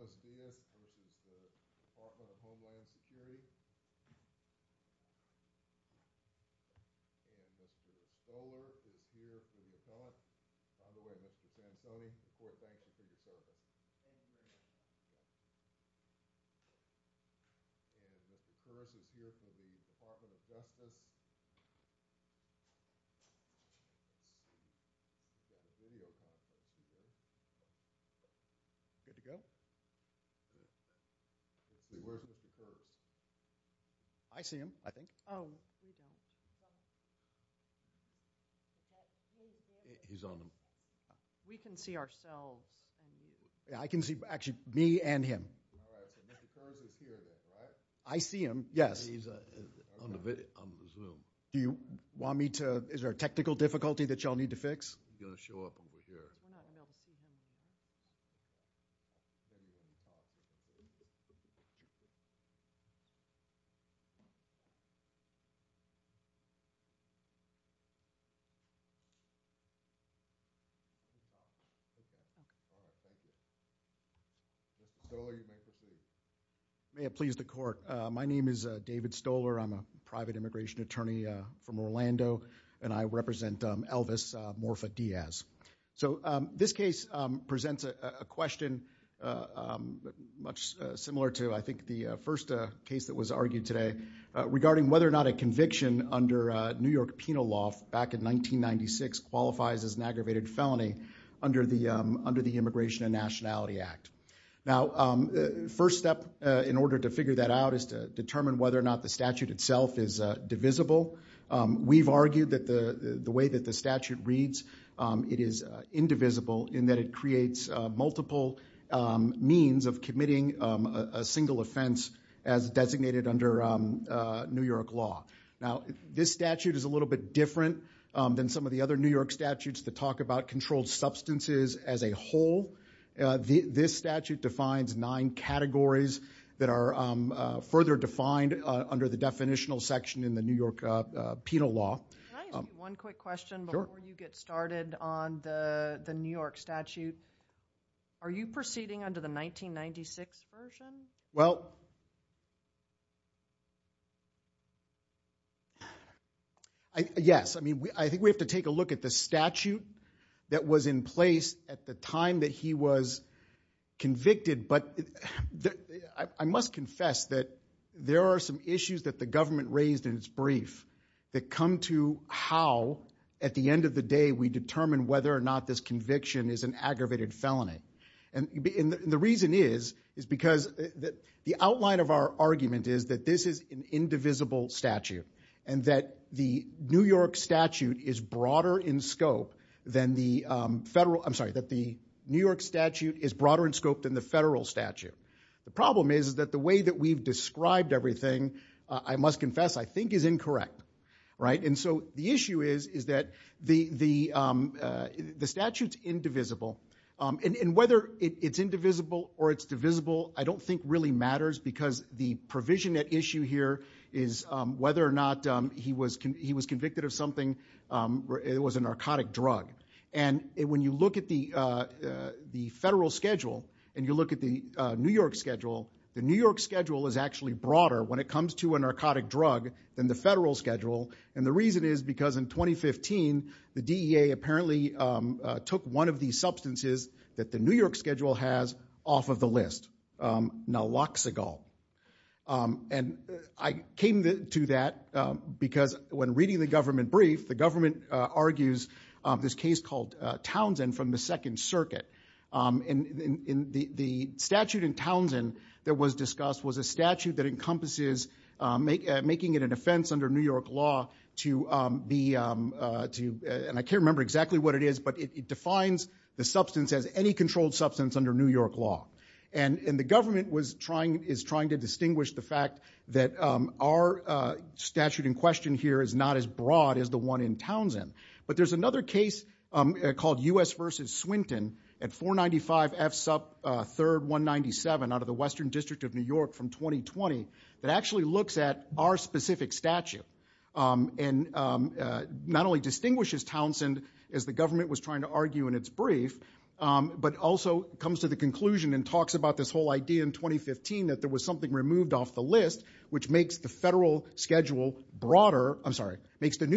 Mr. Cole is here for the account. By the way, Mr. Sam Coney, Support Bank, I think you saw him. And Mr. Phillips is here for the Department of Justice. I see him, I think. We can see ourselves. I can see actually me and him. I see him, yes. Do you want me to, is there a technical difficulty that y'all need to fix? I may have pleased the court. My name is David Stoler. I'm a private immigration attorney from Orlando, and I represent Elvis Morfa Diaz. So this case presents a question much similar to I think the first case that was argued today, regarding whether or not a conviction under New York penal law back in 1996 qualifies as an aggravated felony under the Immigration and Nationality Act. Now, first step in order to figure that out is to determine whether or not the statute itself is divisible. We've argued that the way that the statute reads, it is indivisible in that it creates multiple means of committing a single offense as designated under New York law. Now, this statute is a little bit different than some of the other New York statutes that talk about controlled substances as a whole. This statute defines nine categories that are further defined under the definitional section in the New York penal law. Can I ask one quick question before you get started on the New York statute? Are you proceeding under the 1996 version? Well, yes. I mean, I think we have to take a look at the statute that was in place at the time that he was convicted. But I must confess that there are some issues that the government raised in its brief that come to how, at the end of the day, we determine whether or not this conviction is an aggravated felony. And the reason is because the outline of our argument is that this is an indivisible statute and that the New York statute is broader in scope than the federal. I'm sorry, that the New York statute is broader in scope than the federal statute. The problem is that the way that we've described everything, I must confess, I think is incorrect. And so the issue is that the statute's indivisible. And whether it's indivisible or it's divisible I don't think really matters because the provision at issue here is whether or not he was convicted of something. It was a narcotic drug. And when you look at the federal schedule and you look at the New York schedule, the New York schedule is actually broader when it comes to a narcotic drug than the federal schedule. And the reason is because in 2015 the DEA apparently took one of these substances that the New York schedule has off of the list, Naloxicol. And I came to that because when reading the government brief, the government argues this case called Townsend from the Second Circuit. And the statute in Townsend that was discussed was a statute that encompasses making it an offense under New York law to be, and I can't remember exactly what it is, but it defines the substance as any controlled substance under New York law. And the government is trying to distinguish the fact that our statute in question here is not as broad as the one in Townsend. But there's another case called U.S. v. Swinton at 495 F. Sup. 3rd 197 out of the Western District of New York from 2020 that actually looks at our specific statute and not only distinguishes Townsend as the government was trying to argue in its brief, but also comes to the conclusion and talks about this whole idea in 2015 that there was something removed off the list, which makes the New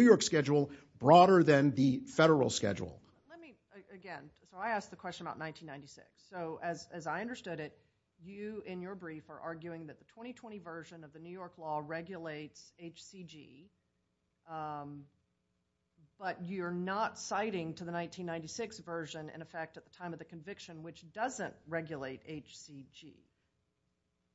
York schedule broader than the federal schedule. Let me, again, so I asked the question about 1996. So as I understood it, you in your brief are arguing that the 2020 version of the New York law regulates HCG, but you're not citing to the 1996 version, in effect, at the time of the conviction, which doesn't regulate HCG.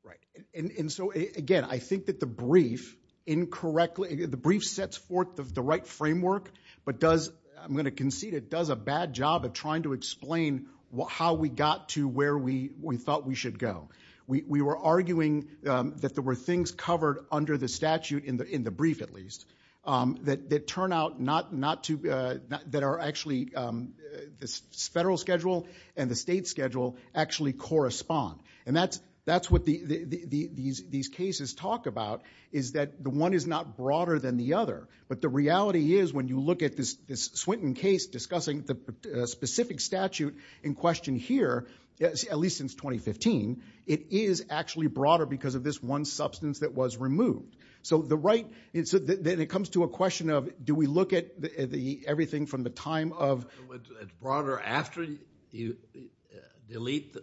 Right. And so, again, I think that the brief incorrectly, the brief sets forth the right framework, but does, I'm going to concede, it does a bad job of trying to explain how we got to where we thought we should go. We were arguing that there were things covered under the statute in the brief, at least, that turn out not to, that are actually, the federal schedule and the state schedule actually correspond. And that's what these cases talk about, is that the one is not broader than the other, but the reality is when you look at this Swinton case discussing the specific statute in question here, at least since 2015, it is actually broader because of this one substance that was removed. So the right, then it comes to a question of, do we look at everything from the time of- Delete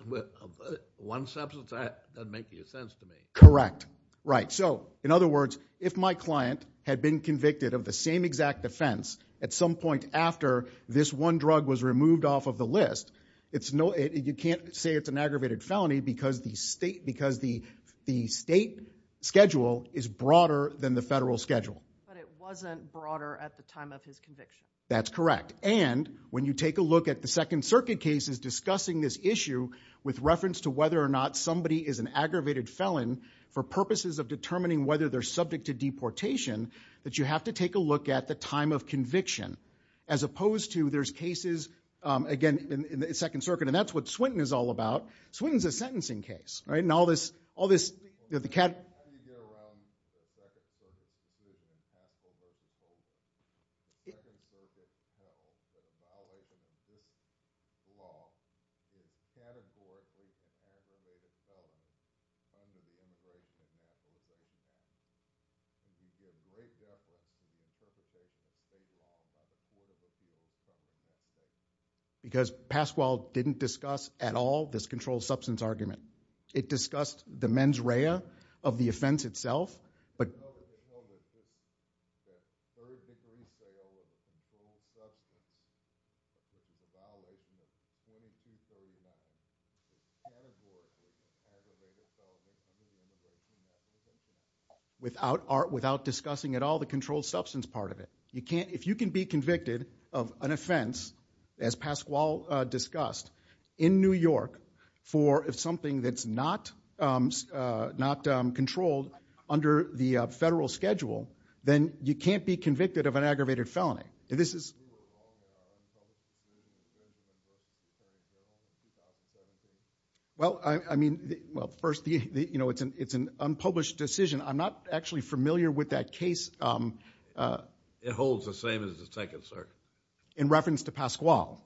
one substance? That doesn't make any sense to me. Correct. Right. So, in other words, if my client had been convicted of the same exact offense at some point after this one drug was removed off of the list, you can't say it's an aggravated felony because the state schedule is broader than the federal schedule. But it wasn't broader at the time of his conviction. That's correct. And when you take a look at the Second Circuit cases discussing this issue with reference to whether or not somebody is an aggravated felon for purposes of determining whether they're subject to deportation, that you have to take a look at the time of conviction as opposed to there's cases, again, in the Second Circuit, and that's what Swinton is all about. Swinton's a sentencing case, right, and all this- How do you go around the Second Circuit, too, when you talk about aggravated felonies? In the Second Circuit, it's not an aggravated felony. It's not an aggravated felony. In this law, it's categorically an aggravated felony. It's categorically an aggravated felony. It's categorically an aggravated felony. And you have a great deal of evidence in the Second Circuit that says that's not an aggravated felony. Because Pasquale didn't discuss at all this controlled substance argument. It discussed the mens rea of the offense itself. But- Without discussing at all the controlled substance part of it. If you can be convicted of an offense, as Pasquale discussed, in New York for something that's not controlled under the federal schedule, then you can't be convicted of an aggravated felony. This is- Well, I mean- Well, first, it's an unpublished decision. I'm not actually familiar with that case- It holds the same as the Second Circuit. In reference to Pasquale.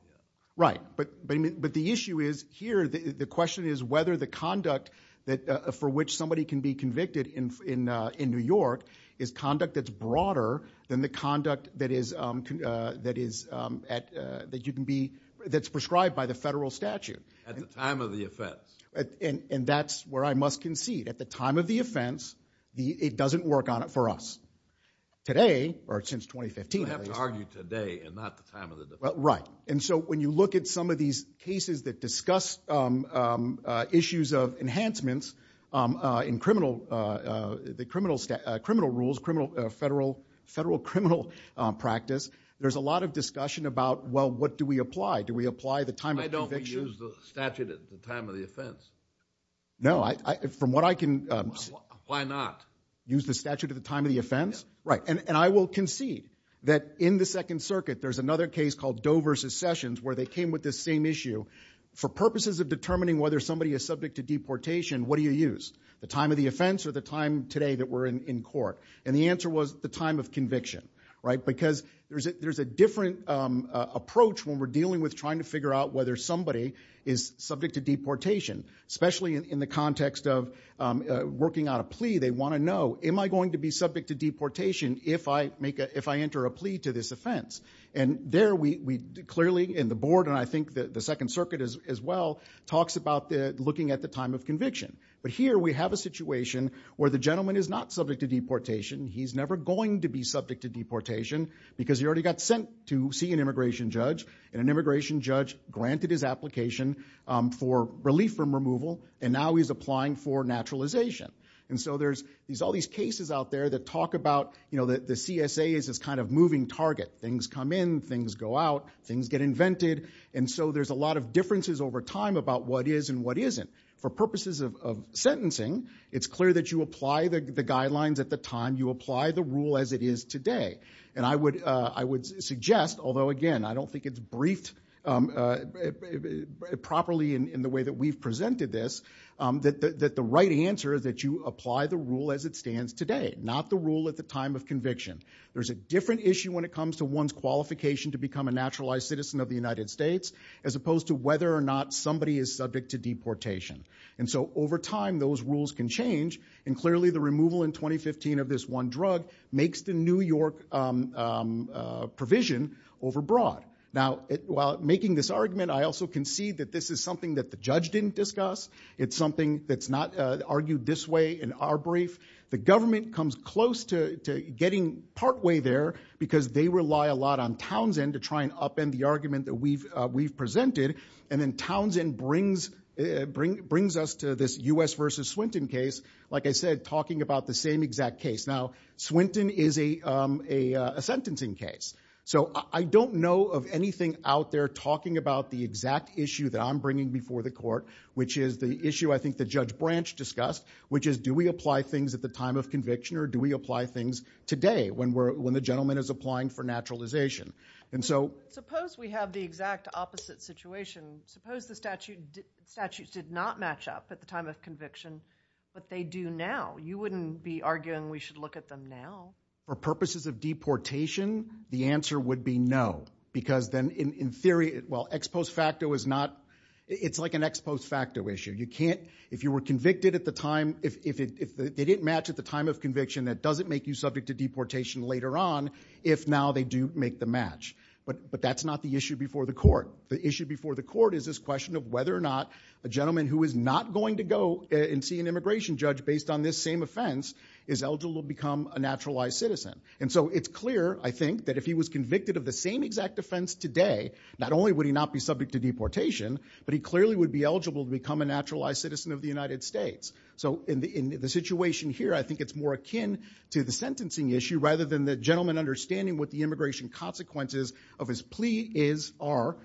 Right. But the issue is, here, the question is whether the conduct for which somebody can be convicted in New York is conduct that's broader than the conduct that's prescribed by the federal statute. At the time of the offense. And that's where I must concede. At the time of the offense, it doesn't work on it for us. Today, or since 2015, at least. You have to argue today and not the time of the defense. Right. And so when you look at some of these cases that discuss issues of enhancements in criminal rules, federal criminal practice, there's a lot of discussion about, well, what do we apply? Do we apply the time of conviction? Why don't we use the statute at the time of the offense? No, from what I can- Why not? Use the statute at the time of the offense? Right. And I will concede that in the Second Circuit, there's another case called Doe versus Sessions, where they came with this same issue. For purposes of determining whether somebody is subject to deportation, what do you use? The time of the offense or the time today that we're in court? And the answer was the time of conviction. Right. Because there's a different approach when we're dealing with trying to figure out whether somebody is subject to deportation, especially in the context of working out a plea. They want to know, am I going to be subject to deportation if I enter a plea to this offense? And there we clearly in the board, and I think the Second Circuit as well, talks about looking at the time of conviction. But here we have a situation where the gentleman is not subject to deportation. He's never going to be subject to deportation because he already got sent to see an immigration judge, and an immigration judge granted his application for relief from removal, and now he's applying for naturalization. And so there's all these cases out there that talk about the CSA is this kind of moving target. Things come in, things go out, things get invented, and so there's a lot of differences over time about what is and what isn't. For purposes of sentencing, it's clear that you apply the guidelines at the time. You apply the rule as it is today. And I would suggest, although again, I don't think it's briefed properly in the way that we've presented this, that the right answer is that you apply the rule as it stands today, not the rule at the time of conviction. There's a different issue when it comes to one's qualification to become a naturalized citizen of the United States as opposed to whether or not somebody is subject to deportation. And so over time, those rules can change, and clearly the removal in 2015 of this one drug makes the New York provision overbroad. Now, while making this argument, I also concede that this is something that the judge didn't discuss. It's something that's not argued this way in our brief. The government comes close to getting partway there because they rely a lot on Townsend to try and upend the argument that we've presented, and then Townsend brings us to this U.S. v. Swinton case, like I said, talking about the same exact case. Now, Swinton is a sentencing case, so I don't know of anything out there talking about the exact issue that I'm bringing before the court, which is the issue I think that Judge Branch discussed, which is do we apply things at the time of conviction or do we apply things today when the gentleman is applying for naturalization. Suppose we have the exact opposite situation. Suppose the statutes did not match up at the time of conviction, but they do now. You wouldn't be arguing we should look at them now. For purposes of deportation, the answer would be no because then in theory, well, ex post facto is not – it's like an ex post facto issue. You can't – if you were convicted at the time – if they didn't match at the time of conviction, that doesn't make you subject to deportation later on if now they do make the match. But that's not the issue before the court. The issue before the court is this question of whether or not a gentleman who is not going to go and see an immigration judge based on this same offense is eligible to become a naturalized citizen. And so it's clear, I think, that if he was convicted of the same exact offense today, not only would he not be subject to deportation, but he clearly would be eligible to become a naturalized citizen of the United States. So in the situation here, I think it's more akin to the sentencing issue rather than the gentleman understanding what the immigration consequences of his plea are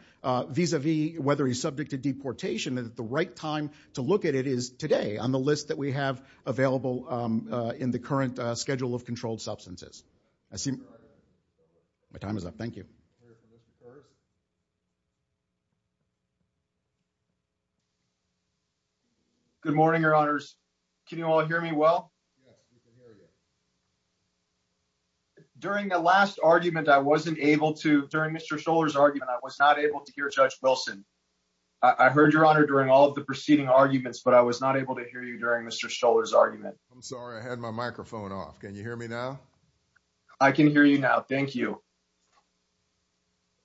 vis-a-vis whether he's subject to deportation. And the right time to look at it is today on the list that we have available in the current schedule of controlled substances. My time is up. Thank you. Good morning, Your Honors. Can you all hear me well? Yes, we can hear you. During the last argument, I wasn't able to – during Mr. Stoller's argument, I was not able to hear Judge Wilson. I heard, Your Honor, during all of the preceding arguments, but I was not able to hear you during Mr. Stoller's argument. I'm sorry. I had my microphone off. Can you hear me now? I can hear you now. Thank you.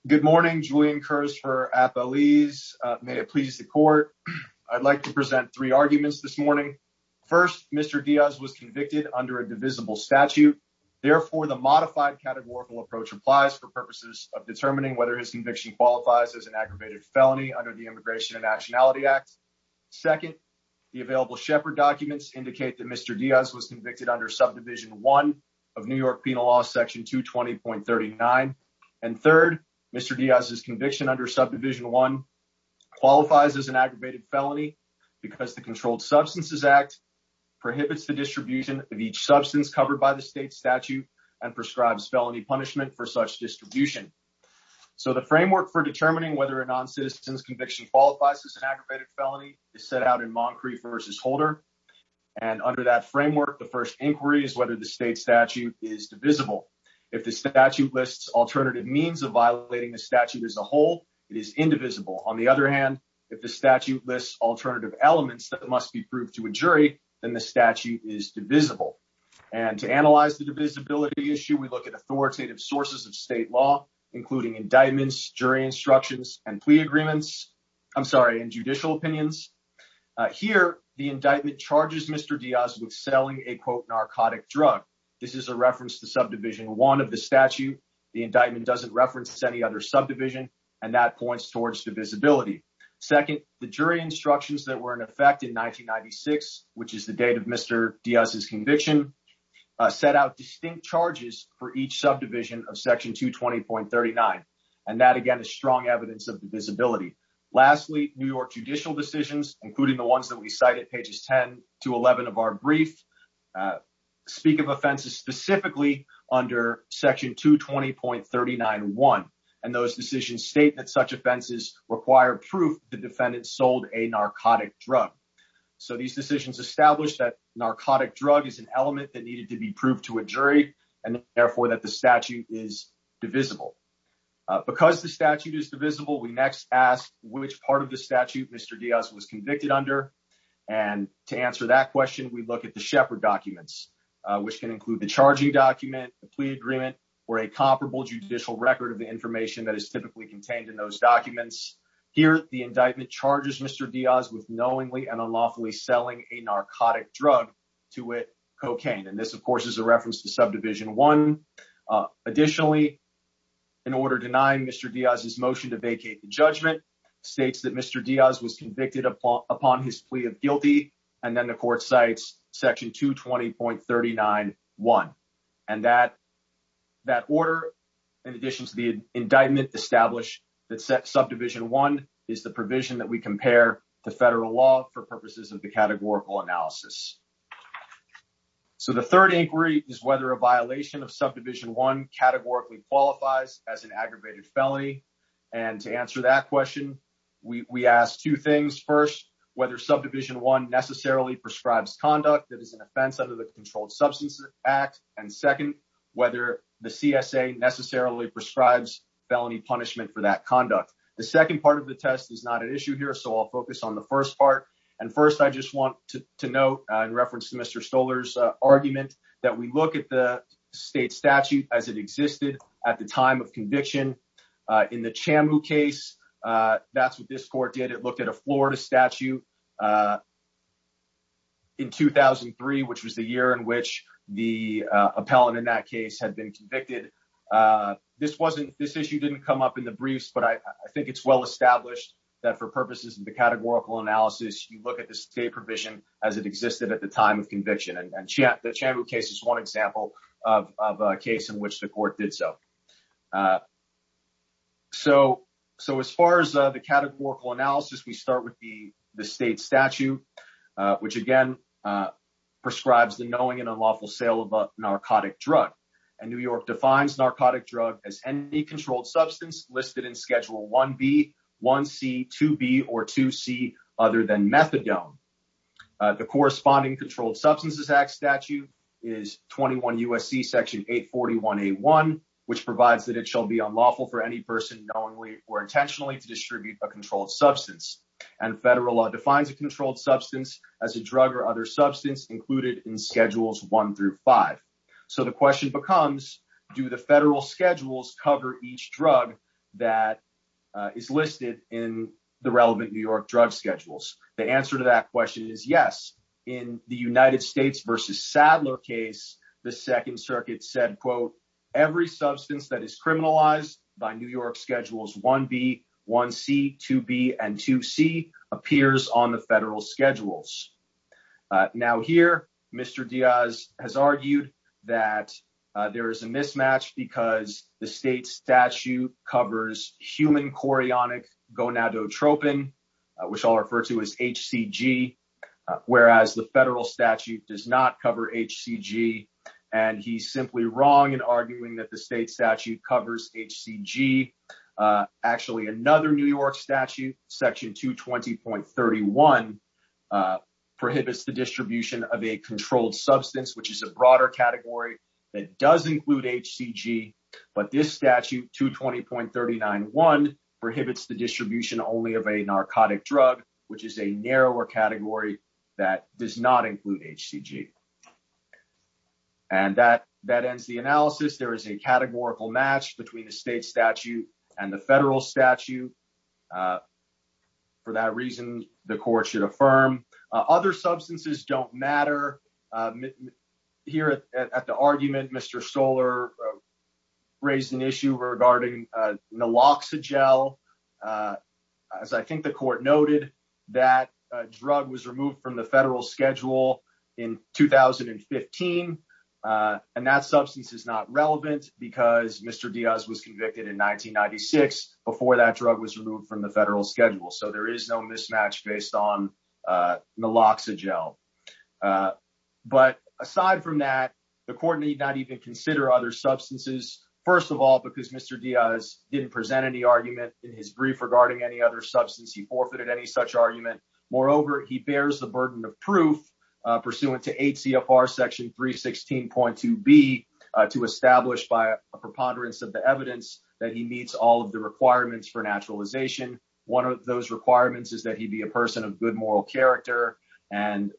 Good morning. Julian Kurz for Appalese. May it please the Court. I'd like to present three arguments this morning. First, Mr. Diaz was convicted under a divisible statute. Therefore, the modified categorical approach applies for purposes of determining whether his conviction qualifies as an aggravated felony under the Immigration and Actionality Act. Second, the available Shepard documents indicate that Mr. Diaz was convicted under Subdivision I of New York Penal Law, Section 220.39. And third, Mr. Diaz's conviction under Subdivision I qualifies as an aggravated felony because the Controlled Substances Act prohibits the distribution of each substance covered by the state statute and prescribes felony punishment for such distribution. So the framework for determining whether a non-citizen's conviction qualifies as an aggravated felony is set out in Moncrief v. Holder. And under that framework, the first inquiry is whether the state statute is divisible. If the statute lists alternative means of violating the statute as a whole, it is indivisible. On the other hand, if the statute lists alternative elements that must be proved to a jury, then the statute is divisible. And to analyze the divisibility issue, we look at authoritative sources of state law, including indictments, jury instructions, and plea agreements. I'm sorry, and judicial opinions. Here, the indictment charges Mr. Diaz with selling a, quote, narcotic drug. This is a reference to Subdivision I of the statute. The indictment doesn't reference any other subdivision, and that points towards divisibility. Second, the jury instructions that were in effect in 1996, which is the date of Mr. Diaz's conviction, set out distinct charges for each subdivision of Section 220.39. And that, again, is strong evidence of divisibility. Lastly, New York judicial decisions, including the ones that we cite at pages 10 to 11 of our brief, speak of offenses specifically under Section 220.39.1. And those decisions state that such offenses require proof the defendant sold a narcotic drug. So these decisions establish that narcotic drug is an element that needed to be proved to a jury, and therefore that the statute is divisible. Because the statute is divisible, we next ask which part of the statute Mr. Diaz was convicted under. And to answer that question, we look at the Shepard documents, which can include the charging document, the plea agreement, or a comparable judicial record of the information that is typically contained in those documents. Here, the indictment charges Mr. Diaz with knowingly and unlawfully selling a narcotic drug, to wit, cocaine. And this, of course, is a reference to Subdivision I. Additionally, an order denying Mr. Diaz's motion to vacate the judgment states that Mr. Diaz was convicted upon his plea of guilty, and then the court cites Section 220.39.1. And that order, in addition to the indictment, establish that Subdivision I is the provision that we compare to federal law for purposes of the categorical analysis. So the third inquiry is whether a violation of Subdivision I categorically qualifies as an aggravated felony. And to answer that question, we ask two things. First, whether Subdivision I necessarily prescribes conduct that is an offense under the Controlled Substances Act. And second, whether the CSA necessarily prescribes felony punishment for that conduct. The second part of the test is not an issue here, so I'll focus on the first part. And first, I just want to note, in reference to Mr. Stoller's argument, that we look at the state statute as it existed at the time of conviction. In the Chamu case, that's what this court did. It looked at a Florida statute in 2003, which was the year in which the appellant in that case had been convicted. This issue didn't come up in the briefs, but I think it's well established that for purposes of the categorical analysis, you look at the state provision as it existed at the time of conviction. And the Chamu case is one example of a case in which the court did so. So as far as the categorical analysis, we start with the state statute, which, again, prescribes the knowing and unlawful sale of a narcotic drug. And New York defines narcotic drug as any controlled substance listed in Schedule 1B, 1C, 2B, or 2C other than methadone. The corresponding Controlled Substances Act statute is 21 U.S.C. Section 841A1, which provides that it shall be unlawful for any person knowingly or intentionally to distribute a controlled substance. And federal law defines a controlled substance as a drug or other substance included in Schedules 1 through 5. So the question becomes, do the federal schedules cover each drug that is listed in the relevant New York drug schedules? The answer to that question is yes. In the United States v. Sadler case, the Second Circuit said, quote, Every substance that is criminalized by New York Schedules 1B, 1C, 2B, and 2C appears on the federal schedules. Now here, Mr. Diaz has argued that there is a mismatch because the state statute covers human chorionic gonadotropin, which I'll refer to as HCG, whereas the federal statute does not cover HCG. And he's simply wrong in arguing that the state statute covers HCG. Actually, another New York statute, Section 220.31, prohibits the distribution of a controlled substance, which is a broader category that does include HCG. But this statute, 220.39.1, prohibits the distribution only of a narcotic drug, which is a narrower category that does not include HCG. And that that ends the analysis. There is a categorical match between the state statute and the federal statute. For that reason, the court should affirm. Other substances don't matter. Here at the argument, Mr. Stoller raised an issue regarding naloxigel. As I think the court noted, that drug was removed from the federal schedule in 2015. And that substance is not relevant because Mr. Diaz was convicted in 1996 before that drug was removed from the federal schedule. So there is no mismatch based on naloxigel. But aside from that, the court need not even consider other substances. First of all, because Mr. Diaz didn't present any argument in his brief regarding any other substance, he forfeited any such argument. Moreover, he bears the burden of proof pursuant to 8 CFR section 316.2b to establish by a preponderance of the evidence that he meets all of the requirements for naturalization. One of those requirements is that he be a person of good moral character. And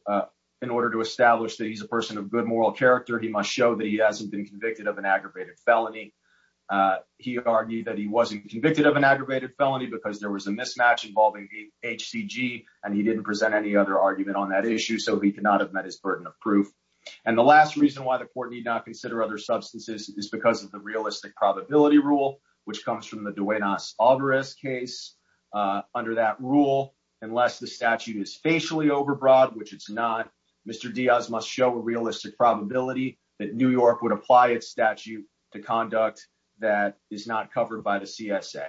in order to establish that he's a person of good moral character, he must show that he hasn't been convicted of an aggravated felony. He argued that he wasn't convicted of an aggravated felony because there was a mismatch involving HCG and he didn't present any other argument on that issue. So he could not have met his burden of proof. And the last reason why the court need not consider other substances is because of the realistic probability rule, which comes from the Duenas-Alvarez case. Under that rule, unless the statute is facially overbroad, which it's not, Mr. Diaz must show a realistic probability that New York would apply its statute to conduct that is not covered by the CSA.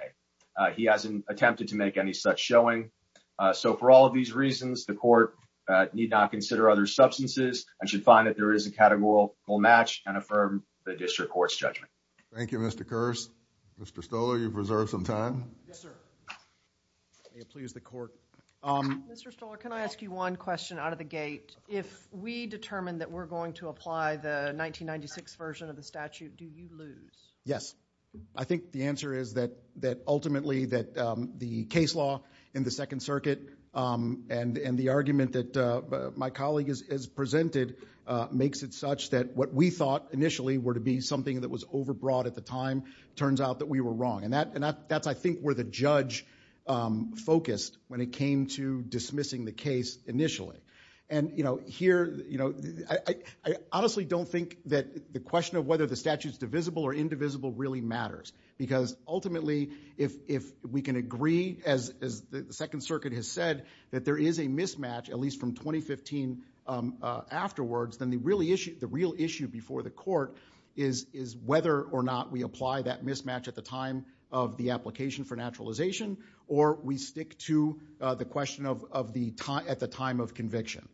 He hasn't attempted to make any such showing. So for all of these reasons, the court need not consider other substances and should find that there is a categorical match and affirm the district court's judgment. Thank you, Mr. Kearse. Mr. Stolar, you've reserved some time. Yes, sir. May it please the court. Mr. Stolar, can I ask you one question out of the gate? If we determine that we're going to apply the 1996 version of the statute, do you lose? Yes. I think the answer is that ultimately that the case law in the Second Circuit and the argument that my colleague has presented makes it such that what we thought initially were to be something that was overbroad at the time turns out that we were wrong. And that's, I think, where the judge focused when it came to dismissing the case initially. And, you know, here, you know, I honestly don't think that the question of whether the statute is divisible or indivisible really matters. Because ultimately if we can agree, as the Second Circuit has said, that there is a mismatch, at least from 2015 afterwards, then the real issue before the court is whether or not we apply that mismatch at the time of the application for naturalization or we stick to the question at the time of conviction.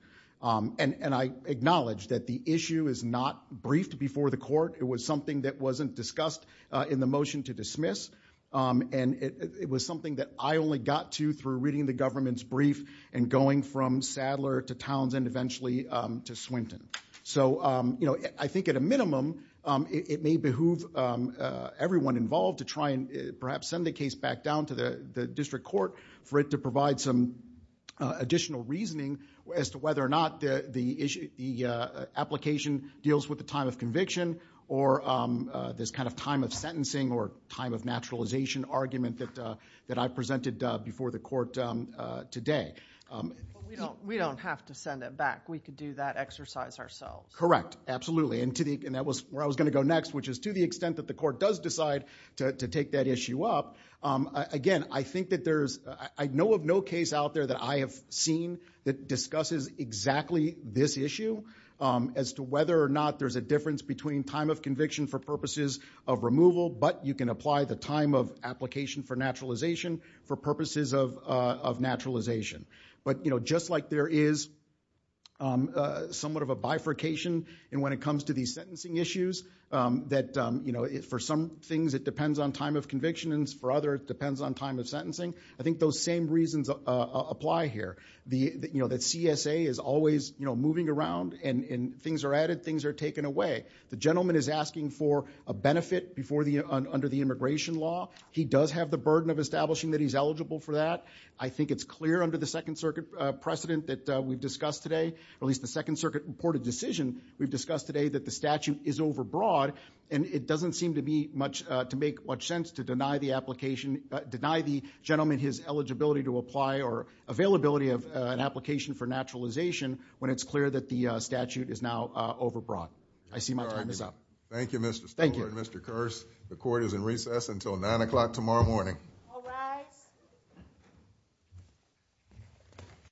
And I acknowledge that the issue is not briefed before the court. It was something that wasn't discussed in the motion to dismiss. And it was something that I only got to through reading the government's brief and going from Sadler to Townsend eventually to Swinton. So, you know, I think at a minimum it may behoove everyone involved to try and perhaps send the case back down to the district court for it to provide some additional reasoning as to whether or not the application deals with the time of conviction or this kind of time of sentencing or time of naturalization argument that I presented before the court today. We don't have to send it back. We could do that exercise ourselves. Correct. Absolutely. And that was where I was going to go next, which is to the extent that the court does decide to take that issue up. Again, I know of no case out there that I have seen that discusses exactly this issue as to whether or not there's a difference between time of conviction for purposes of removal, but you can apply the time of application for naturalization for purposes of naturalization. But, you know, just like there is somewhat of a bifurcation and when it comes to these sentencing issues that, you know, for some things it depends on time of conviction and for others it depends on time of sentencing. I think those same reasons apply here. You know, that CSA is always, you know, moving around and things are added, things are taken away. The gentleman is asking for a benefit under the immigration law. He does have the burden of establishing that he's eligible for that. I think it's clear under the Second Circuit precedent that we've discussed today, or at least the Second Circuit reported decision we've discussed today, that the statute is overbroad. And it doesn't seem to be much, to make much sense to deny the application, deny the gentleman his eligibility to apply or availability of an application for naturalization when it's clear that the statute is now overbroad. I see my time is up. Thank you, Mr. Stover and Mr. Kearse. The court is in recess until 9 o'clock tomorrow morning. All rise. The court is adjourned.